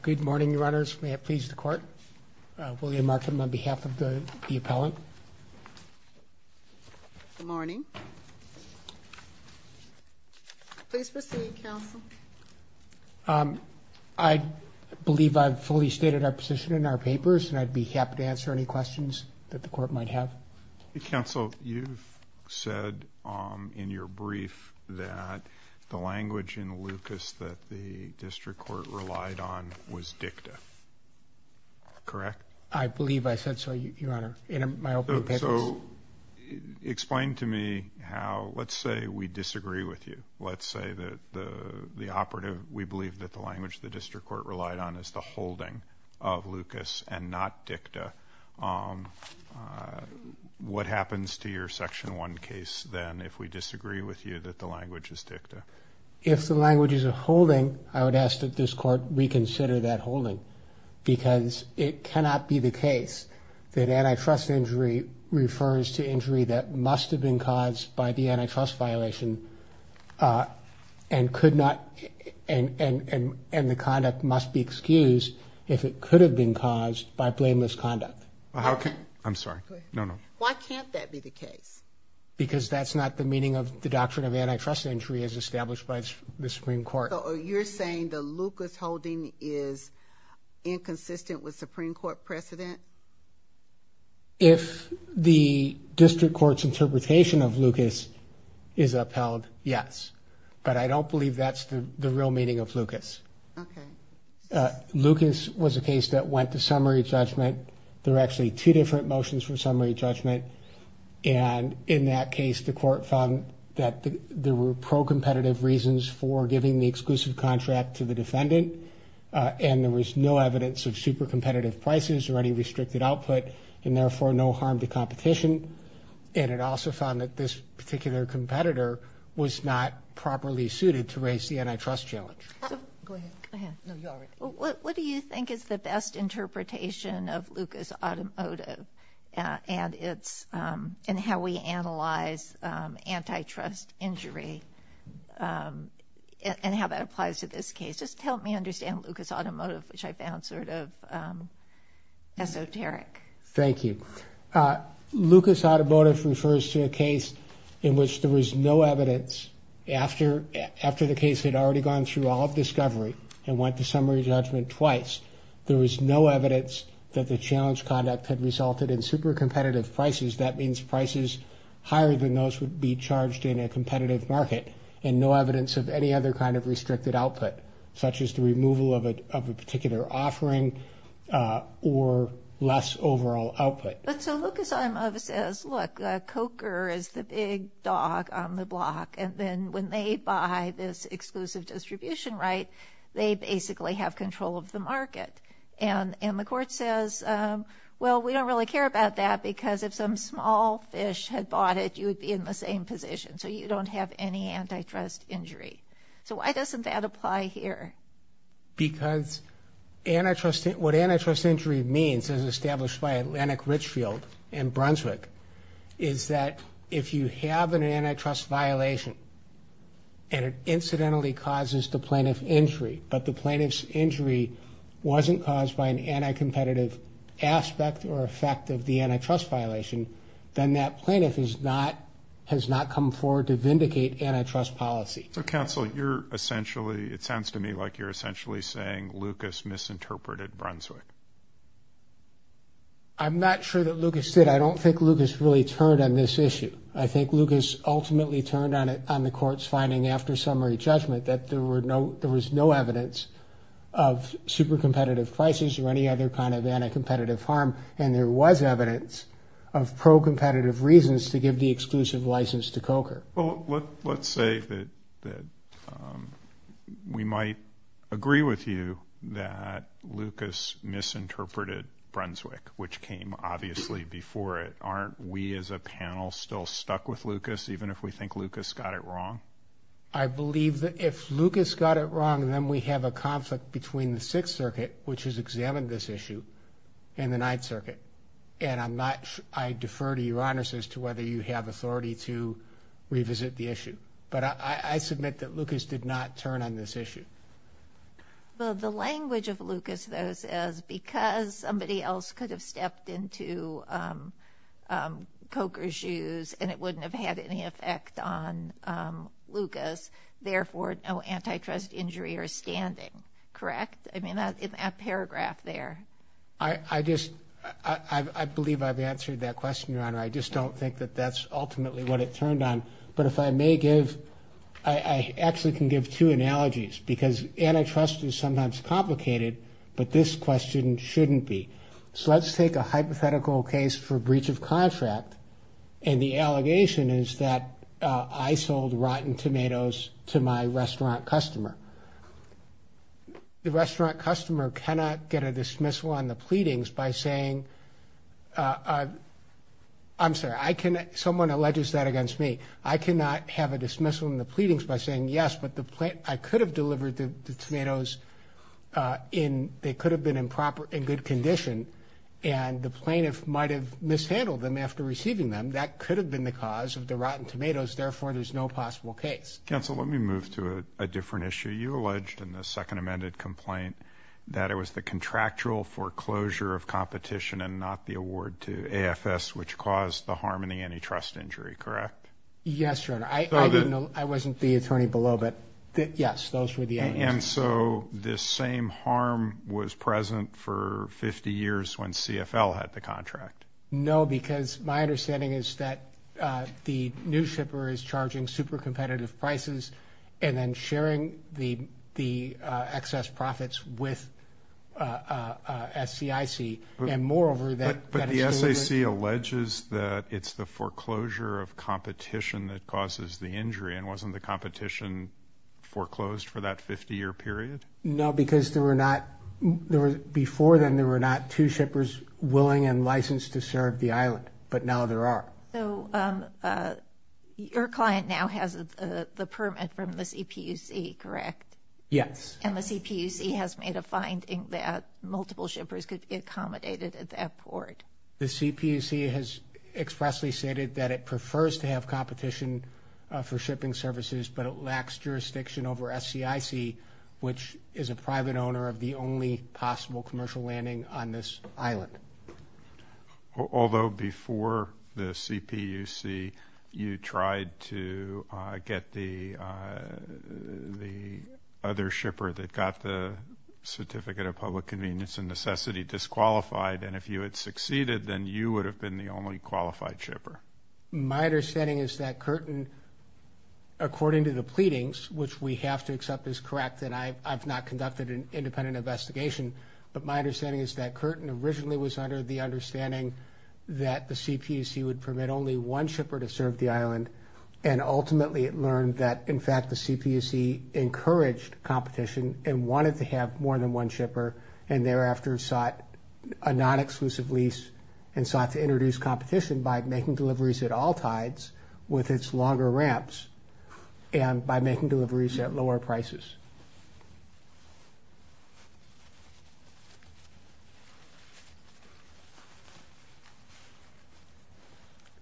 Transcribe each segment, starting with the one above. Good morning, Your Honors. May it please the Court, William Markham on behalf of the appellant. Good morning. Please proceed, Counsel. I believe I've fully stated our position in our papers and I'd be happy to answer any questions that the Court might have. Counsel, you've said in your brief that the language in Lucas that the District Court relied on was dicta. Correct? I believe I said so, Your Honor, in my opening papers. So explain to me how, let's say we disagree with you. Let's say that the operative, we believe that the language the District Court relied on is the holding of Lucas and not dicta. What happens to your Section 1 case then if we disagree with you that the language is this Court reconsider that holding? Because it cannot be the case that antitrust injury refers to injury that must have been caused by the antitrust violation and the conduct must be excused if it could have been caused by blameless conduct. I'm sorry. Go ahead. No, no. Why can't that be the case? Because that's not the meaning of the doctrine of antitrust injury as established by the Supreme Court. So you're saying the Lucas holding is inconsistent with Supreme Court precedent? If the District Court's interpretation of Lucas is upheld, yes. But I don't believe that's the real meaning of Lucas. Okay. Lucas was a case that went to summary judgment. There were actually two different motions for summary judgment. And in that case, the Court found that there were pro-competitive reasons for giving the exclusive contract to the defendant. And there was no evidence of super competitive prices or any restricted output, and therefore no harm to competition. And it also found that this particular competitor was not properly suited to raise the antitrust challenge. Go ahead. Go ahead. No, you already. What do you think is the best interpretation of Lucas automotive and how we analyze antitrust injury and how that applies to this case? Just help me understand Lucas automotive, which I found sort of esoteric. Thank you. Lucas automotive refers to a case in which there was no evidence after the case had already gone through all of discovery and went to summary judgment twice. There was no evidence that the challenge conduct had resulted in super competitive prices. That means prices higher than those would be charged in a competitive market and no evidence of any other kind of restricted output, such as the removal of a particular offering or less overall output. But so Lucas automotive says, look, Coker is the big dog on the block. And then when they buy this exclusive distribution right, they basically have control of the market. And the court says, well, we don't really care about that because if some small fish had bought it, you would be in the same position. So you don't have any antitrust injury. So why doesn't that apply here? Because antitrust, what antitrust injury means is established by Atlantic Richfield in Brunswick, is that if you have an antitrust violation and it incidentally causes the plaintiff injury, but the plaintiff's injury wasn't caused by an anti-competitive aspect or effect of the antitrust violation, then that plaintiff is not, has not come forward to vindicate antitrust policy. So counsel, you're essentially, it sounds to me like you're essentially saying Lucas misinterpreted Brunswick. I'm not sure that Lucas did. I don't think Lucas really turned on this issue. I think Lucas ultimately turned on it, on the court's finding after summary judgment that there were no, there was no evidence of super competitive prices or any other kind of anti-competitive harm. And there was evidence of pro-competitive reasons to give the exclusive license to Coker. Well, let's say that we might agree with you that Lucas misinterpreted Brunswick, which came obviously before it. Aren't we as a panel still stuck with Lucas, even if we think Lucas got it wrong? I believe that if Lucas got it wrong, then we have a conflict between the Sixth Circuit, which has examined this issue, and the Ninth Circuit. And I'm not, I defer to your honors as to whether you have authority to revisit the issue. But I submit that Lucas did not turn on this issue. Well, the language of Lucas, though, says because somebody else could have stepped into Coker's shoes, and it wouldn't have had any effect on Lucas, therefore, no antitrust injury or standing. Correct? I mean, that paragraph there. I just, I believe I've answered that question, Your Honor. I just don't think that that's ultimately what it turned on. But if I may give, I actually can give two analogies, because antitrust is So let's take a hypothetical case for breach of contract. And the allegation is that I sold rotten tomatoes to my restaurant customer. The restaurant customer cannot get a dismissal on the pleadings by saying, I'm sorry, I can, someone alleges that against me. I cannot have a dismissal in the pleadings by saying yes, but the plant, I could have delivered the tomatoes in, they could and the plaintiff might have mishandled them after receiving them. That could have been the cause of the rotten tomatoes. Therefore, there's no possible case. Counsel, let me move to a different issue. You alleged in the second amended complaint that it was the contractual foreclosure of competition and not the award to AFS, which caused the harm in the antitrust injury. Correct? Yes, Your Honor. I wasn't the attorney below, but yes, those were the years when CFL had the contract. No, because my understanding is that the new shipper is charging super competitive prices and then sharing the excess profits with, uh, S. C. I. C. And moreover that, but the S. A. C. Alleges that it's the foreclosure of competition that causes the injury. And wasn't the competition foreclosed for that 50 year period? No, because there were not there before then, there were not two shippers willing and licensed to serve the island. But now there are. So, uh, your client now has the permit from the C. P. U. C. Correct? Yes. And the C. P. U. C. Has made a finding that multiple shippers could be accommodated at that port. The C. P. U. C. Has expressly stated that it prefers to have competition for shipping services, but it lacks jurisdiction over S. C. I. C. Which is a private owner of the only possible commercial landing on this island. Although before the C. P. U. C. You tried to get the, uh, the other shipper that got the certificate of public convenience and necessity disqualified. And if you had succeeded, then you would have been the only qualified shipper. My understanding is that Curtin, according to the pleadings, which we have to accept is correct, and I've not conducted an independent investigation. But my understanding is that Curtin originally was under the understanding that the C. P. U. C. Would permit only one shipper to serve the island. And ultimately, it learned that, in fact, the C. P. U. C. Encouraged competition and wanted to have more than one shipper and thereafter sought a non exclusive lease and sought to introduce competition by making deliveries at all sides with its longer ramps and by making deliveries at lower prices.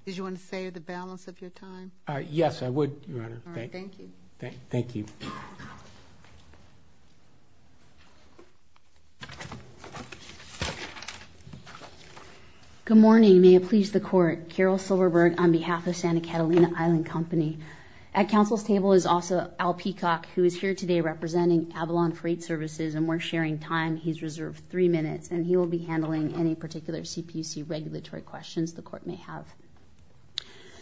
Did you want to say the balance of your time? Yes, I would, Your Honor. Thank you. Thank you. Yeah. Good morning. May it please the court. Carol Silverberg on behalf of Santa Catalina Island Company at Council's table is also Al Peacock, who is here today representing Avalon Freight Services, and we're sharing time. He's reserved three minutes, and he will be handling any particular C. P. U. C. Regulatory questions the court may have.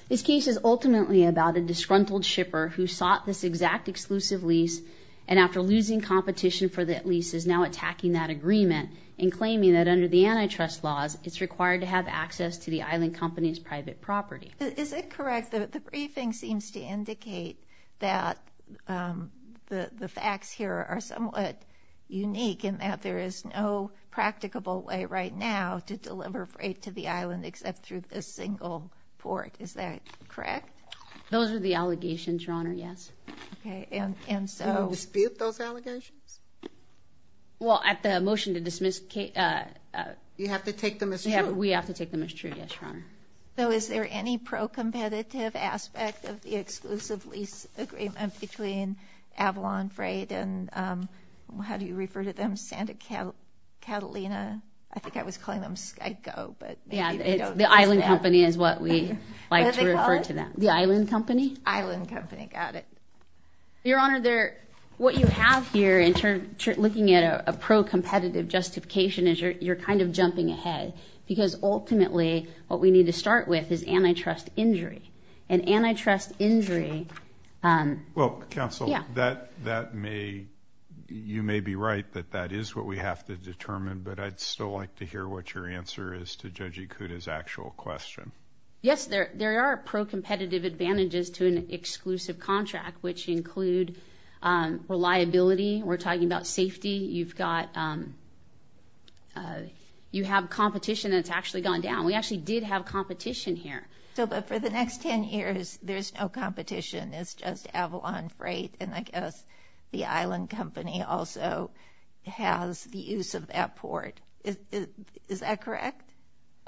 This case is ultimately about a disgruntled shipper who sought this exact exclusive lease, and after losing competition for that lease, is now attacking that agreement and claiming that under the antitrust laws, it's required to have access to the island company's private property. Is it correct that the briefing seems to indicate that the facts here are somewhat unique in that there is no practicable way right now to deliver freight to the island except through this single port? Is that correct? Those are the allegations, Your Honor, yes. Okay, and so... Do you dispute those allegations? Well, at the motion to dismiss... You have to take them as true? We have to take them as true, yes, Your Honor. So is there any pro-competitive aspect of the exclusive lease agreement between Avalon Freight and... How do you refer to them? Santa Catalina? I think I was calling them Skyco, but... Yeah, the island company is what we like to refer to them. The island company? Island company, got it. Your Honor, what you have here in terms of looking at a pro-competitive justification is you're kind of jumping ahead, because ultimately, what we need to start with is antitrust injury, and antitrust injury... Well, Counsel, you may be right that that is what we have to determine, but I'd still like to hear what your answer is to Judge Ikuda's actual question. Yes, there are pro-competitive advantages to an exclusive contract, which include reliability. We're talking about safety. You've got... You have competition that's actually gone down. We actually did have competition here. So, but for the next 10 years, there's no competition. It's just Avalon Freight, and I guess the island company also has the port. Is that correct?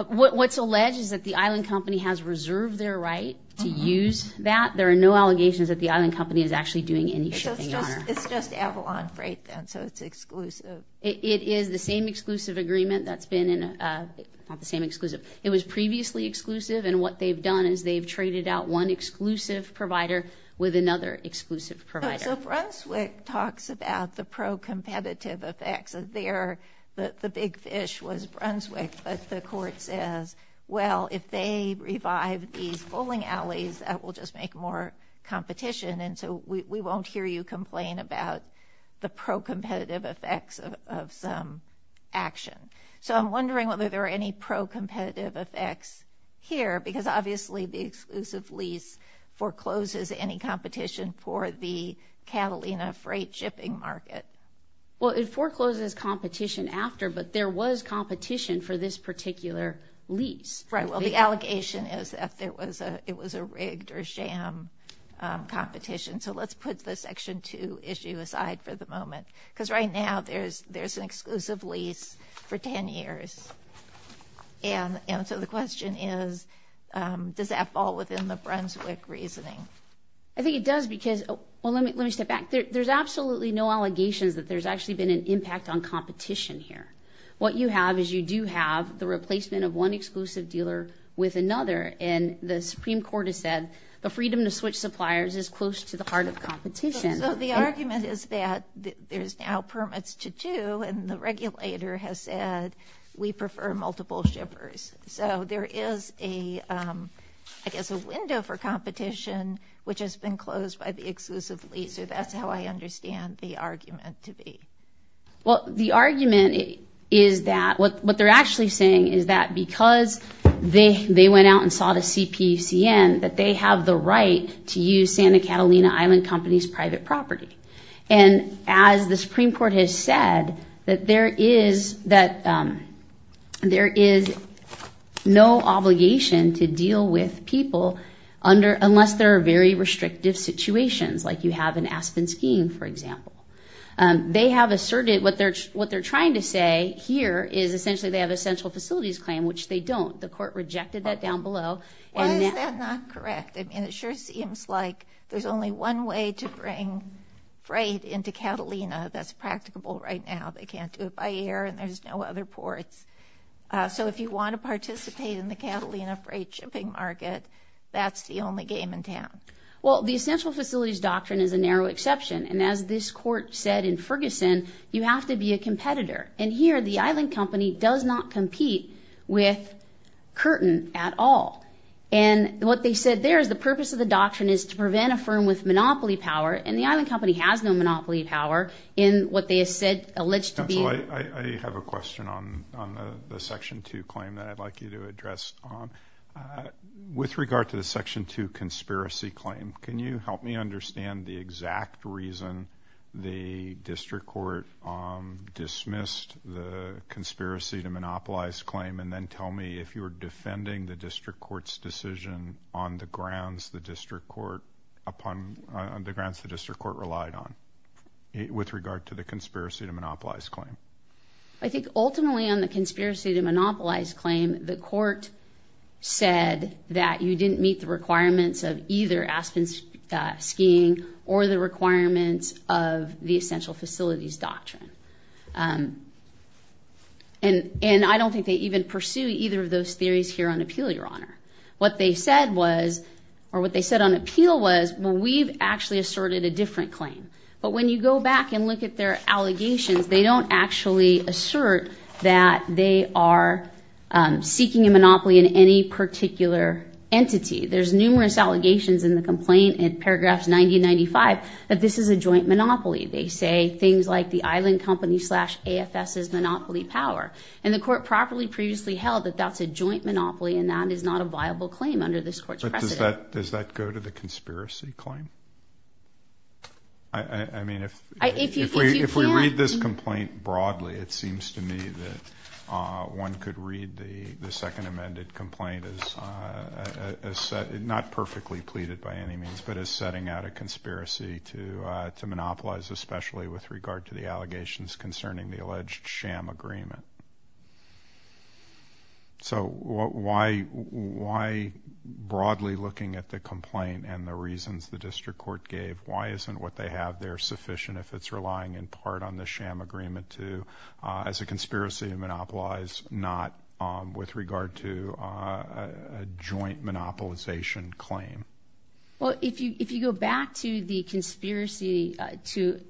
What's alleged is that the island company has reserved their right to use that. There are no allegations that the island company is actually doing any shipping, Your Honor. It's just Avalon Freight, then, so it's exclusive. It is the same exclusive agreement that's been in a... Not the same exclusive. It was previously exclusive, and what they've done is they've traded out one exclusive provider with another exclusive provider. So Brunswick talks about the pro-competitive effects. There, the big fish was Brunswick, but the court says, well, if they revive these bowling alleys, that will just make more competition, and so we won't hear you complain about the pro-competitive effects of some action. So I'm wondering whether there are any pro-competitive effects here, because obviously the exclusive lease forecloses any competition for the Catalina Freight shipping market. Well, it forecloses competition after, but there was competition for this particular lease. Right, well, the allegation is that there was a, it was a rigged or sham competition, so let's put the Section 2 issue aside for the moment, because right now there's, there's an exclusive lease for 10 years, and so the question is, does that fall within the Brunswick reasoning? I think it does, because, well, let me, let me step back. There's absolutely no allegations that there's actually been an impact on competition here. What you have is you do have the replacement of one exclusive dealer with another, and the Supreme Court has said the freedom to switch suppliers is close to the heart of competition. So the argument is that there's now permits to do, and the regulator has said we prefer multiple shippers. So there is a, I guess, a window for competition, which has been closed by the exclusive lease, so that's how I understand the argument to be. Well, the argument is that, what, what they're actually saying is that because they, they went out and saw the CPCN, that they have the right to use Santa Catalina Island Company's private property. And as the Supreme Court has said, that there is, that there is no obligation to deal with people under, unless there are very restrictive situations, like you have in Aspen Skiing, for example. They have asserted, what they're, what they're trying to say here is essentially they have essential facilities claim, which they don't. The court rejected that down below. Why is that not correct? I mean, it sure seems like there's only one way to bring freight into Catalina that's practicable right now. They can't do it by air, and there's no other ports. So if you want to participate in the Catalina freight shipping market, that's the only game in town. Well, the essential facilities doctrine is a narrow exception, and as this court said in Ferguson, you have to be a competitor. And here, the Island Company does not compete with Curtin at all. And what they said there is the purpose of the doctrine is to prevent a firm with monopoly power, and the Island Company has no monopoly power in what they said alleged to be... I have a question on the Section 2 claim that I'd like you to address on. With regard to the Section 2 conspiracy claim, can you help me understand the exact reason the district court dismissed the conspiracy to monopolize claim, and then tell me if you were defending the district court's decision on the grounds the district court, upon the grounds the district court relied on with regard to the conspiracy to monopolize claim? I think ultimately on the conspiracy to monopolize claim, the court said that you didn't meet the requirements of either Aspen skiing or the requirements of the essential facilities doctrine. And I don't think they even pursue either of those theories here on appeal, Your Honor. What they said was, or what they said on When you go back and look at their allegations, they don't actually assert that they are seeking a monopoly in any particular entity. There's numerous allegations in the complaint in paragraphs 90-95 that this is a joint monopoly. They say things like the Island Company slash AFS is monopoly power. And the court properly previously held that that's a joint monopoly, and that is not a viable claim under this court's precedent. Does that go to the conspiracy claim? I mean, if we read this complaint broadly, it seems to me that one could read the second amended complaint as not perfectly pleaded by any means, but as setting out a conspiracy to monopolize, especially with regard to the allegations concerning the alleged sham agreement. So why broadly looking at the complaint and the reasons the district court gave, why isn't what they have there sufficient if it's relying in part on the sham agreement to, as a conspiracy, monopolize, not with regard to a joint monopolization claim? Well, if you go back to the conspiracy to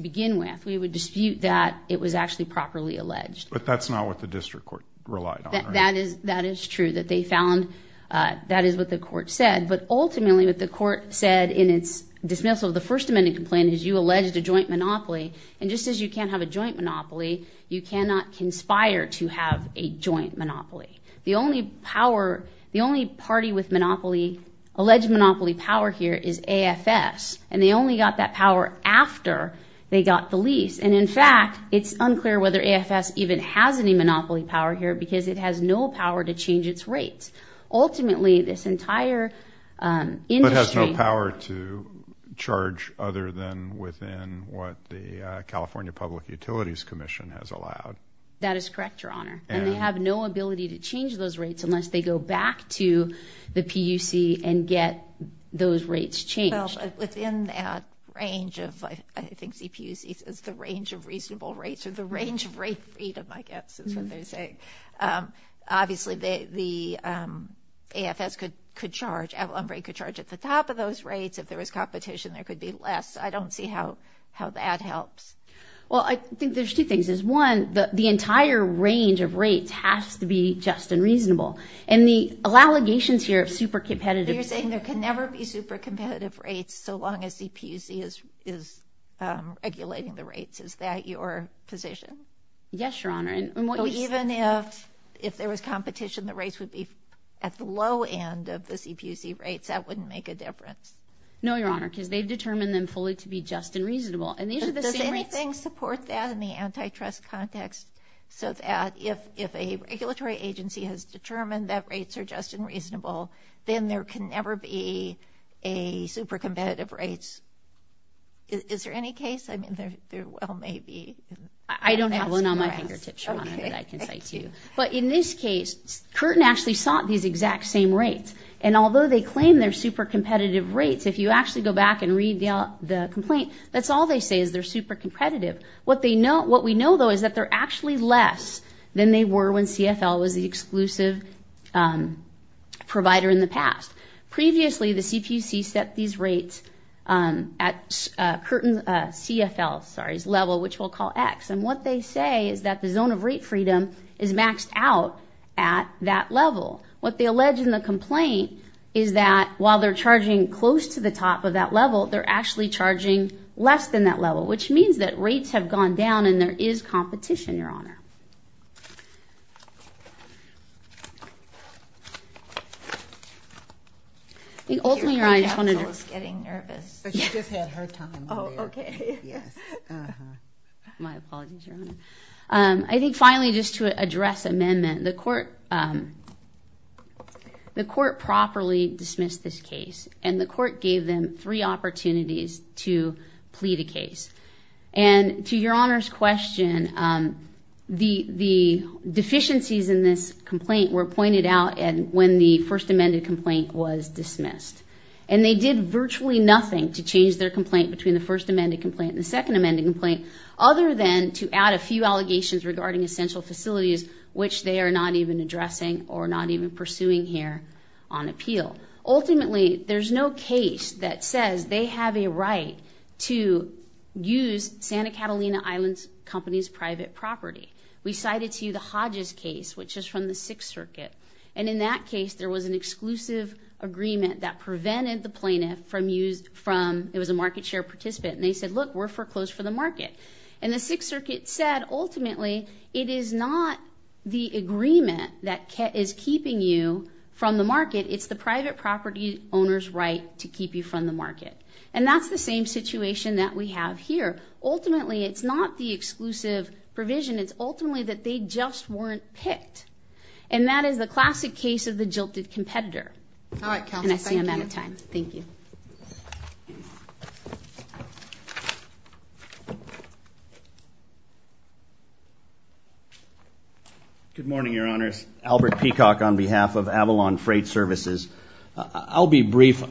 begin with, we would dispute that it was actually properly alleged. But that's not what the district court relied on, right? And that is true, that they found that is what the court said. But ultimately what the court said in its dismissal of the first amended complaint is you alleged a joint monopoly. And just as you can't have a joint monopoly, you cannot conspire to have a joint monopoly. The only party with monopoly, alleged monopoly power here, is AFS. And they only got that power after they got the lease. And in fact, it's unclear whether AFS even has any power to change its rates. Ultimately, this entire industry... But has no power to charge other than within what the California Public Utilities Commission has allowed. That is correct, your honor. And they have no ability to change those rates unless they go back to the PUC and get those rates changed. Within that range of, I think CPUC says the range of reasonable rates, or the range of rate of freedom, I guess, is what they're saying. Obviously, the AFS could charge, Avalon Brake could charge at the top of those rates. If there was competition, there could be less. I don't see how that helps. Well, I think there's two things. There's one, the entire range of rates has to be just and reasonable. And the allegations here of super competitive... You're saying there can never be super competitive rates so long as CPUC is regulating the rates. Is that your position? Yes, your honor. Even if there was competition, the rates would be at the low end of the CPUC rates. That wouldn't make a difference. No, your honor, because they've determined them fully to be just and reasonable. And these are the same rates... Does anything support that in the antitrust context so that if a regulatory agency has determined that rates are just and reasonable, then there can never be a super competitive rates? Is there any case? I don't have one on my fingertips, your honor, that I can cite to you. But in this case, Curtin actually sought these exact same rates. And although they claim they're super competitive rates, if you actually go back and read the complaint, that's all they say is they're super competitive. What we know, though, is that they're actually less than they were when CFL was the exclusive provider in the past. Previously, the CPUC set these rates at Curtin's CFL level, which we'll call X. And what they say is that the zone of rate freedom is maxed out at that level. What they allege in the complaint is that while they're charging close to the top of that level, they're actually charging less than that level, which means that rates have gone down and there is competition, your honor. I think, ultimately, your honor, I just wanted to address amendment. The court properly dismissed this case and the court gave them three opportunities to appeal. The deficiencies in this complaint were pointed out when the first amended complaint was dismissed. And they did virtually nothing to change their complaint between the first amended complaint and the second amended complaint, other than to add a few allegations regarding essential facilities, which they are not even addressing or not even pursuing here on appeal. Ultimately, there's no case that says they have a right to use Santa We cited to you the Hodges case, which is from the Sixth Circuit. And in that case, there was an exclusive agreement that prevented the plaintiff from using, it was a market share participant, and they said, look, we're foreclosed for the market. And the Sixth Circuit said, ultimately, it is not the agreement that is keeping you from the market, it's the private property owner's right to keep you from the market. And that's the same situation that we have here. Ultimately, it's not the exclusive provision, it's ultimately that they just weren't picked. And that is the classic case of the jilted competitor. All right, counsel, I'm out of time. Thank you. Good morning, Your Honors. Albert Peacock on behalf of Avalon Freight Services. I'll be brief.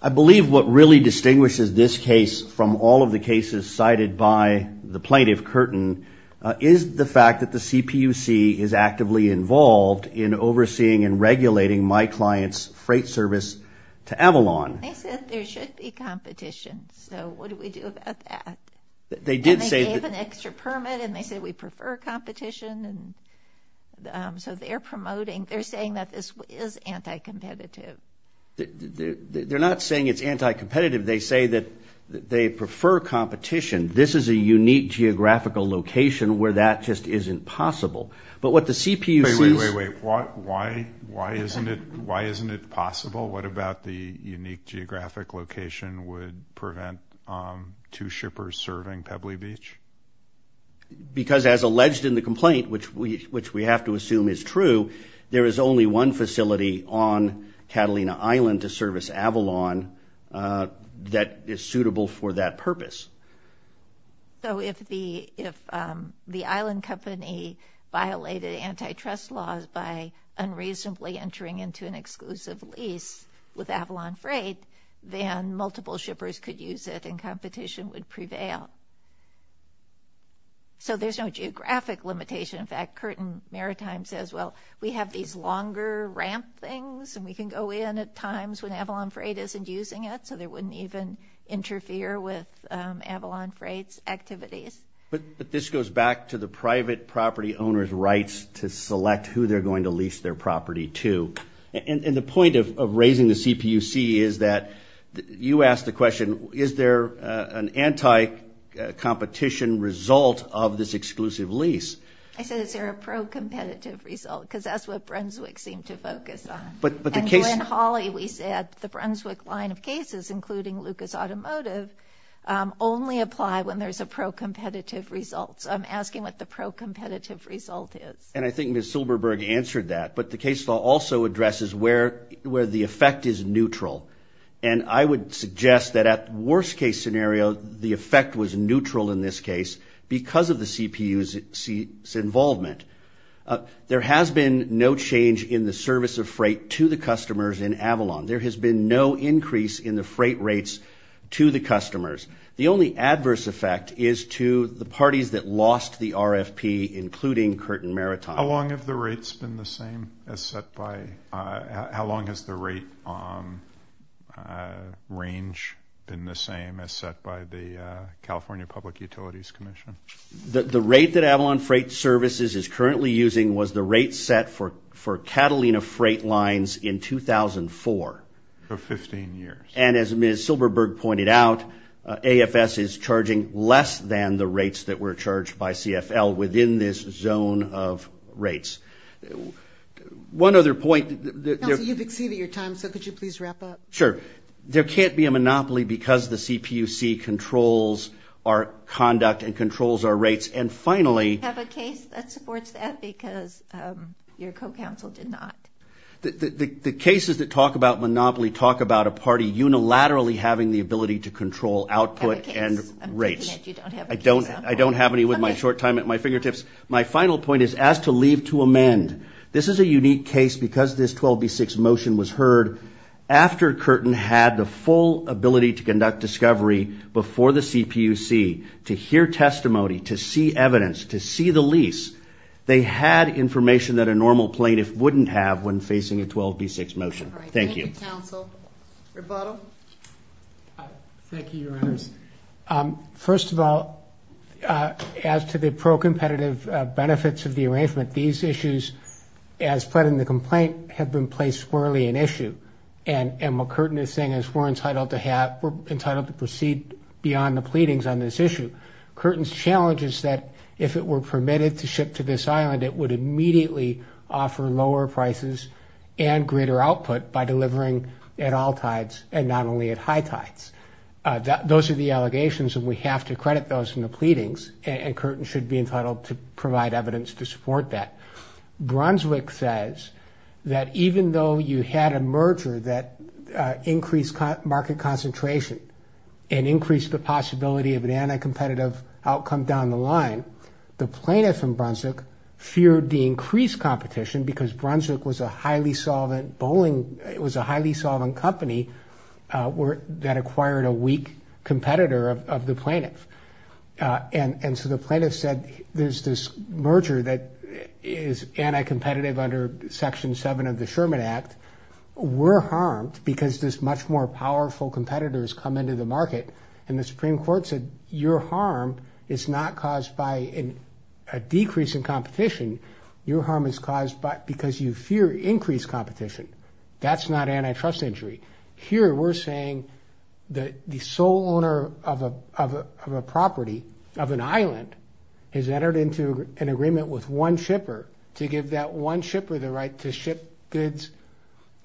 I believe what really distinguishes this case from all of the cases cited by the plaintiff, Curtin, is the fact that the CPUC is actively involved in overseeing and regulating my client's freight service to Avalon. They said there should be competition. So what do we do about that? They did say... And they gave an extra permit, and they said we prefer competition. And so they're promoting, they're saying that this is anti-competitive. They're not saying it's anti-competitive. They say that they prefer competition. This is a unique geographical location where that just isn't possible. But what the CPUC... Wait, wait, wait, wait. Why isn't it possible? What about the unique geographic location would prevent two shippers serving Pebbly Beach? Because as alleged in the complaint, which we have to assume is true, there is only one facility on Catalina Island to service Avalon that is suitable for that purpose. So if the island company violated antitrust laws by unreasonably entering into an exclusive lease with Avalon Freight, then multiple shippers could use it, and competition would prevail. So there's no geographic limitation. In general, we have these longer ramp things, and we can go in at times when Avalon Freight isn't using it, so they wouldn't even interfere with Avalon Freight's activities. But this goes back to the private property owner's rights to select who they're going to lease their property to. And the point of raising the CPUC is that you asked the question, is there an anti-competition result of this exclusive lease? I said, is there a pro-competitive result? Because that's what Brunswick seemed to focus on. And when Hawley, we said the Brunswick line of cases, including Lucas Automotive, only apply when there's a pro-competitive result. So I'm asking what the pro-competitive result is. And I think Ms. Silberberg answered that. But the case law also addresses where the effect is neutral. And I would suggest that at worst case scenario, the involvement, there has been no change in the service of freight to the customers in Avalon. There has been no increase in the freight rates to the customers. The only adverse effect is to the parties that lost the RFP, including Curtin Maritime. How long have the rates been the same as set by... How long has the rate range been the same as set by the California Public Utilities Commission? The rate that Avalon Freight Services is currently using was the rate set for Catalina Freight Lines in 2004. For 15 years. And as Ms. Silberberg pointed out, AFS is charging less than the rates that were charged by CFL within this zone of rates. One other point... Counsel, you've exceeded your time, so could you please wrap up? Sure. There can't be a monopoly because the CPUC controls our conduct and controls our rates. And finally... Do you have a case that supports that? Because your co-counsel did not. The cases that talk about monopoly talk about a party unilaterally having the ability to control output and rates. I'm thinking that you don't have a case on board. I don't have any with my short time at my fingertips. My final point is as to leave to amend. This is a unique case because this 12B6 motion was heard after Curtin had the full ability to conduct discovery before the CPUC, to hear testimony, to see evidence, to see the lease. They had information that a normal plaintiff wouldn't have when facing a 12B6 motion. Thank you. Thank you, counsel. Rebuttal? Thank you, your honors. First of all, as to the pro-competitive benefits of the arrangement, these issues, as put in the complaint, have been placed squarely in issue. And what Curtin is saying is we're entitled to proceed beyond the pleadings on this issue. Curtin's challenge is that if it were permitted to ship to this island, it would immediately offer lower prices and greater output by delivering at all tides and not only at high tides. Those are the allegations and we have to credit those in the pleadings and Curtin should be entitled to provide evidence to support that. Brunswick says that even though you had a merger that increased market concentration and increased the possibility of an anti-competitive outcome down the line, the plaintiff in Brunswick feared the increased competition because Brunswick was a highly solvent company that acquired a weak competitor of the plaintiff. And so the plaintiff said, there's this merger that is anti-competitive under section seven of the Sherman Act. We're harmed because there's much more powerful competitors come into the market. And the Supreme Court said, your harm is not caused by a decrease in competition, your harm is caused because you fear increased competition. That's not antitrust injury. Here we're saying that the sole owner of a property, of an island, has entered into an agreement with one shipper to give that one shipper the right to ship goods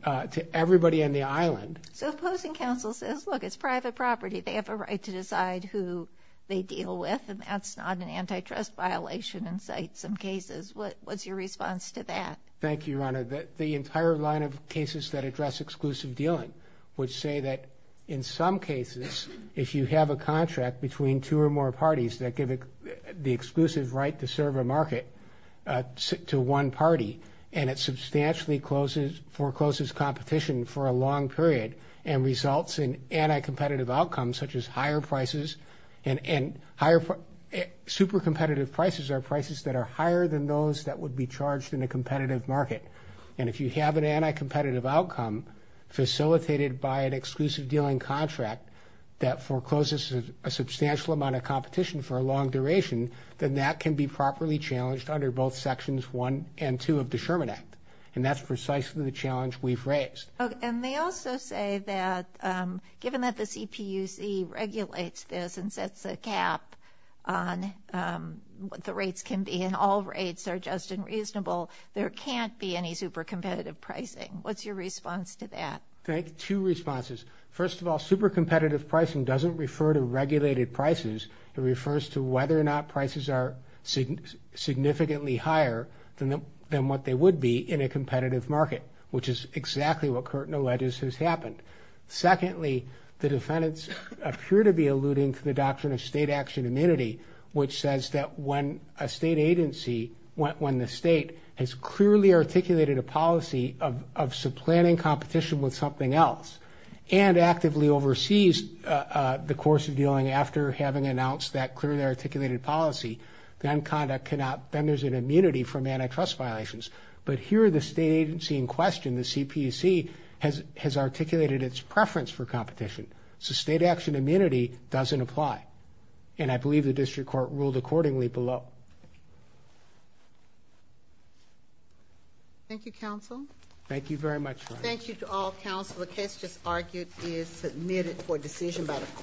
to everybody on the island. So opposing counsel says, look, it's private property. They have a right to decide who they deal with and that's not an antitrust violation in some cases. What's your response to that? Thank you, Your Honor. The entire line of cases that address exclusive dealing would say that in some cases, if you have a contract between two or more parties that give the exclusive right to serve a market to one party and it substantially closes, forecloses competition for a long period and results in anti-competitive outcomes, such as higher prices and higher, super competitive prices are prices that are higher than those that would be charged in a competitive market. And if you have an anti-competitive outcome facilitated by an exclusive dealing contract that forecloses a substantial amount of competition for a long duration, then that can be properly challenged under both Sections 1 and 2 of the Sherman Act. And that's precisely the challenge we've raised. Okay. And they also say that given that the CPUC regulates this and sets a cap on what the rates can be and all rates are just and reasonable, there can't be any super competitive pricing. What's your response to that? Thank you. Two responses. First of all, super competitive pricing doesn't refer to regulated prices. It refers to whether or not prices are significantly higher than what they would be in a competitive market, which is exactly what Curtin alleges has happened. Secondly, the defendants appear to be alluding to the doctrine of state action immunity, which says that when a state agency, when the state has clearly articulated a policy of supplanting competition with something else and actively oversees the course of dealing after having announced that clearly articulated policy, then conduct cannot, then there's an immunity from antitrust violations. But here the state agency in question, the CPC has articulated its preference for competition. So state action immunity doesn't apply. And I believe the district court ruled accordingly below. Thank you, counsel. Thank you very much. Thank you to all counsel. The case just argued is submitted for decision by the court.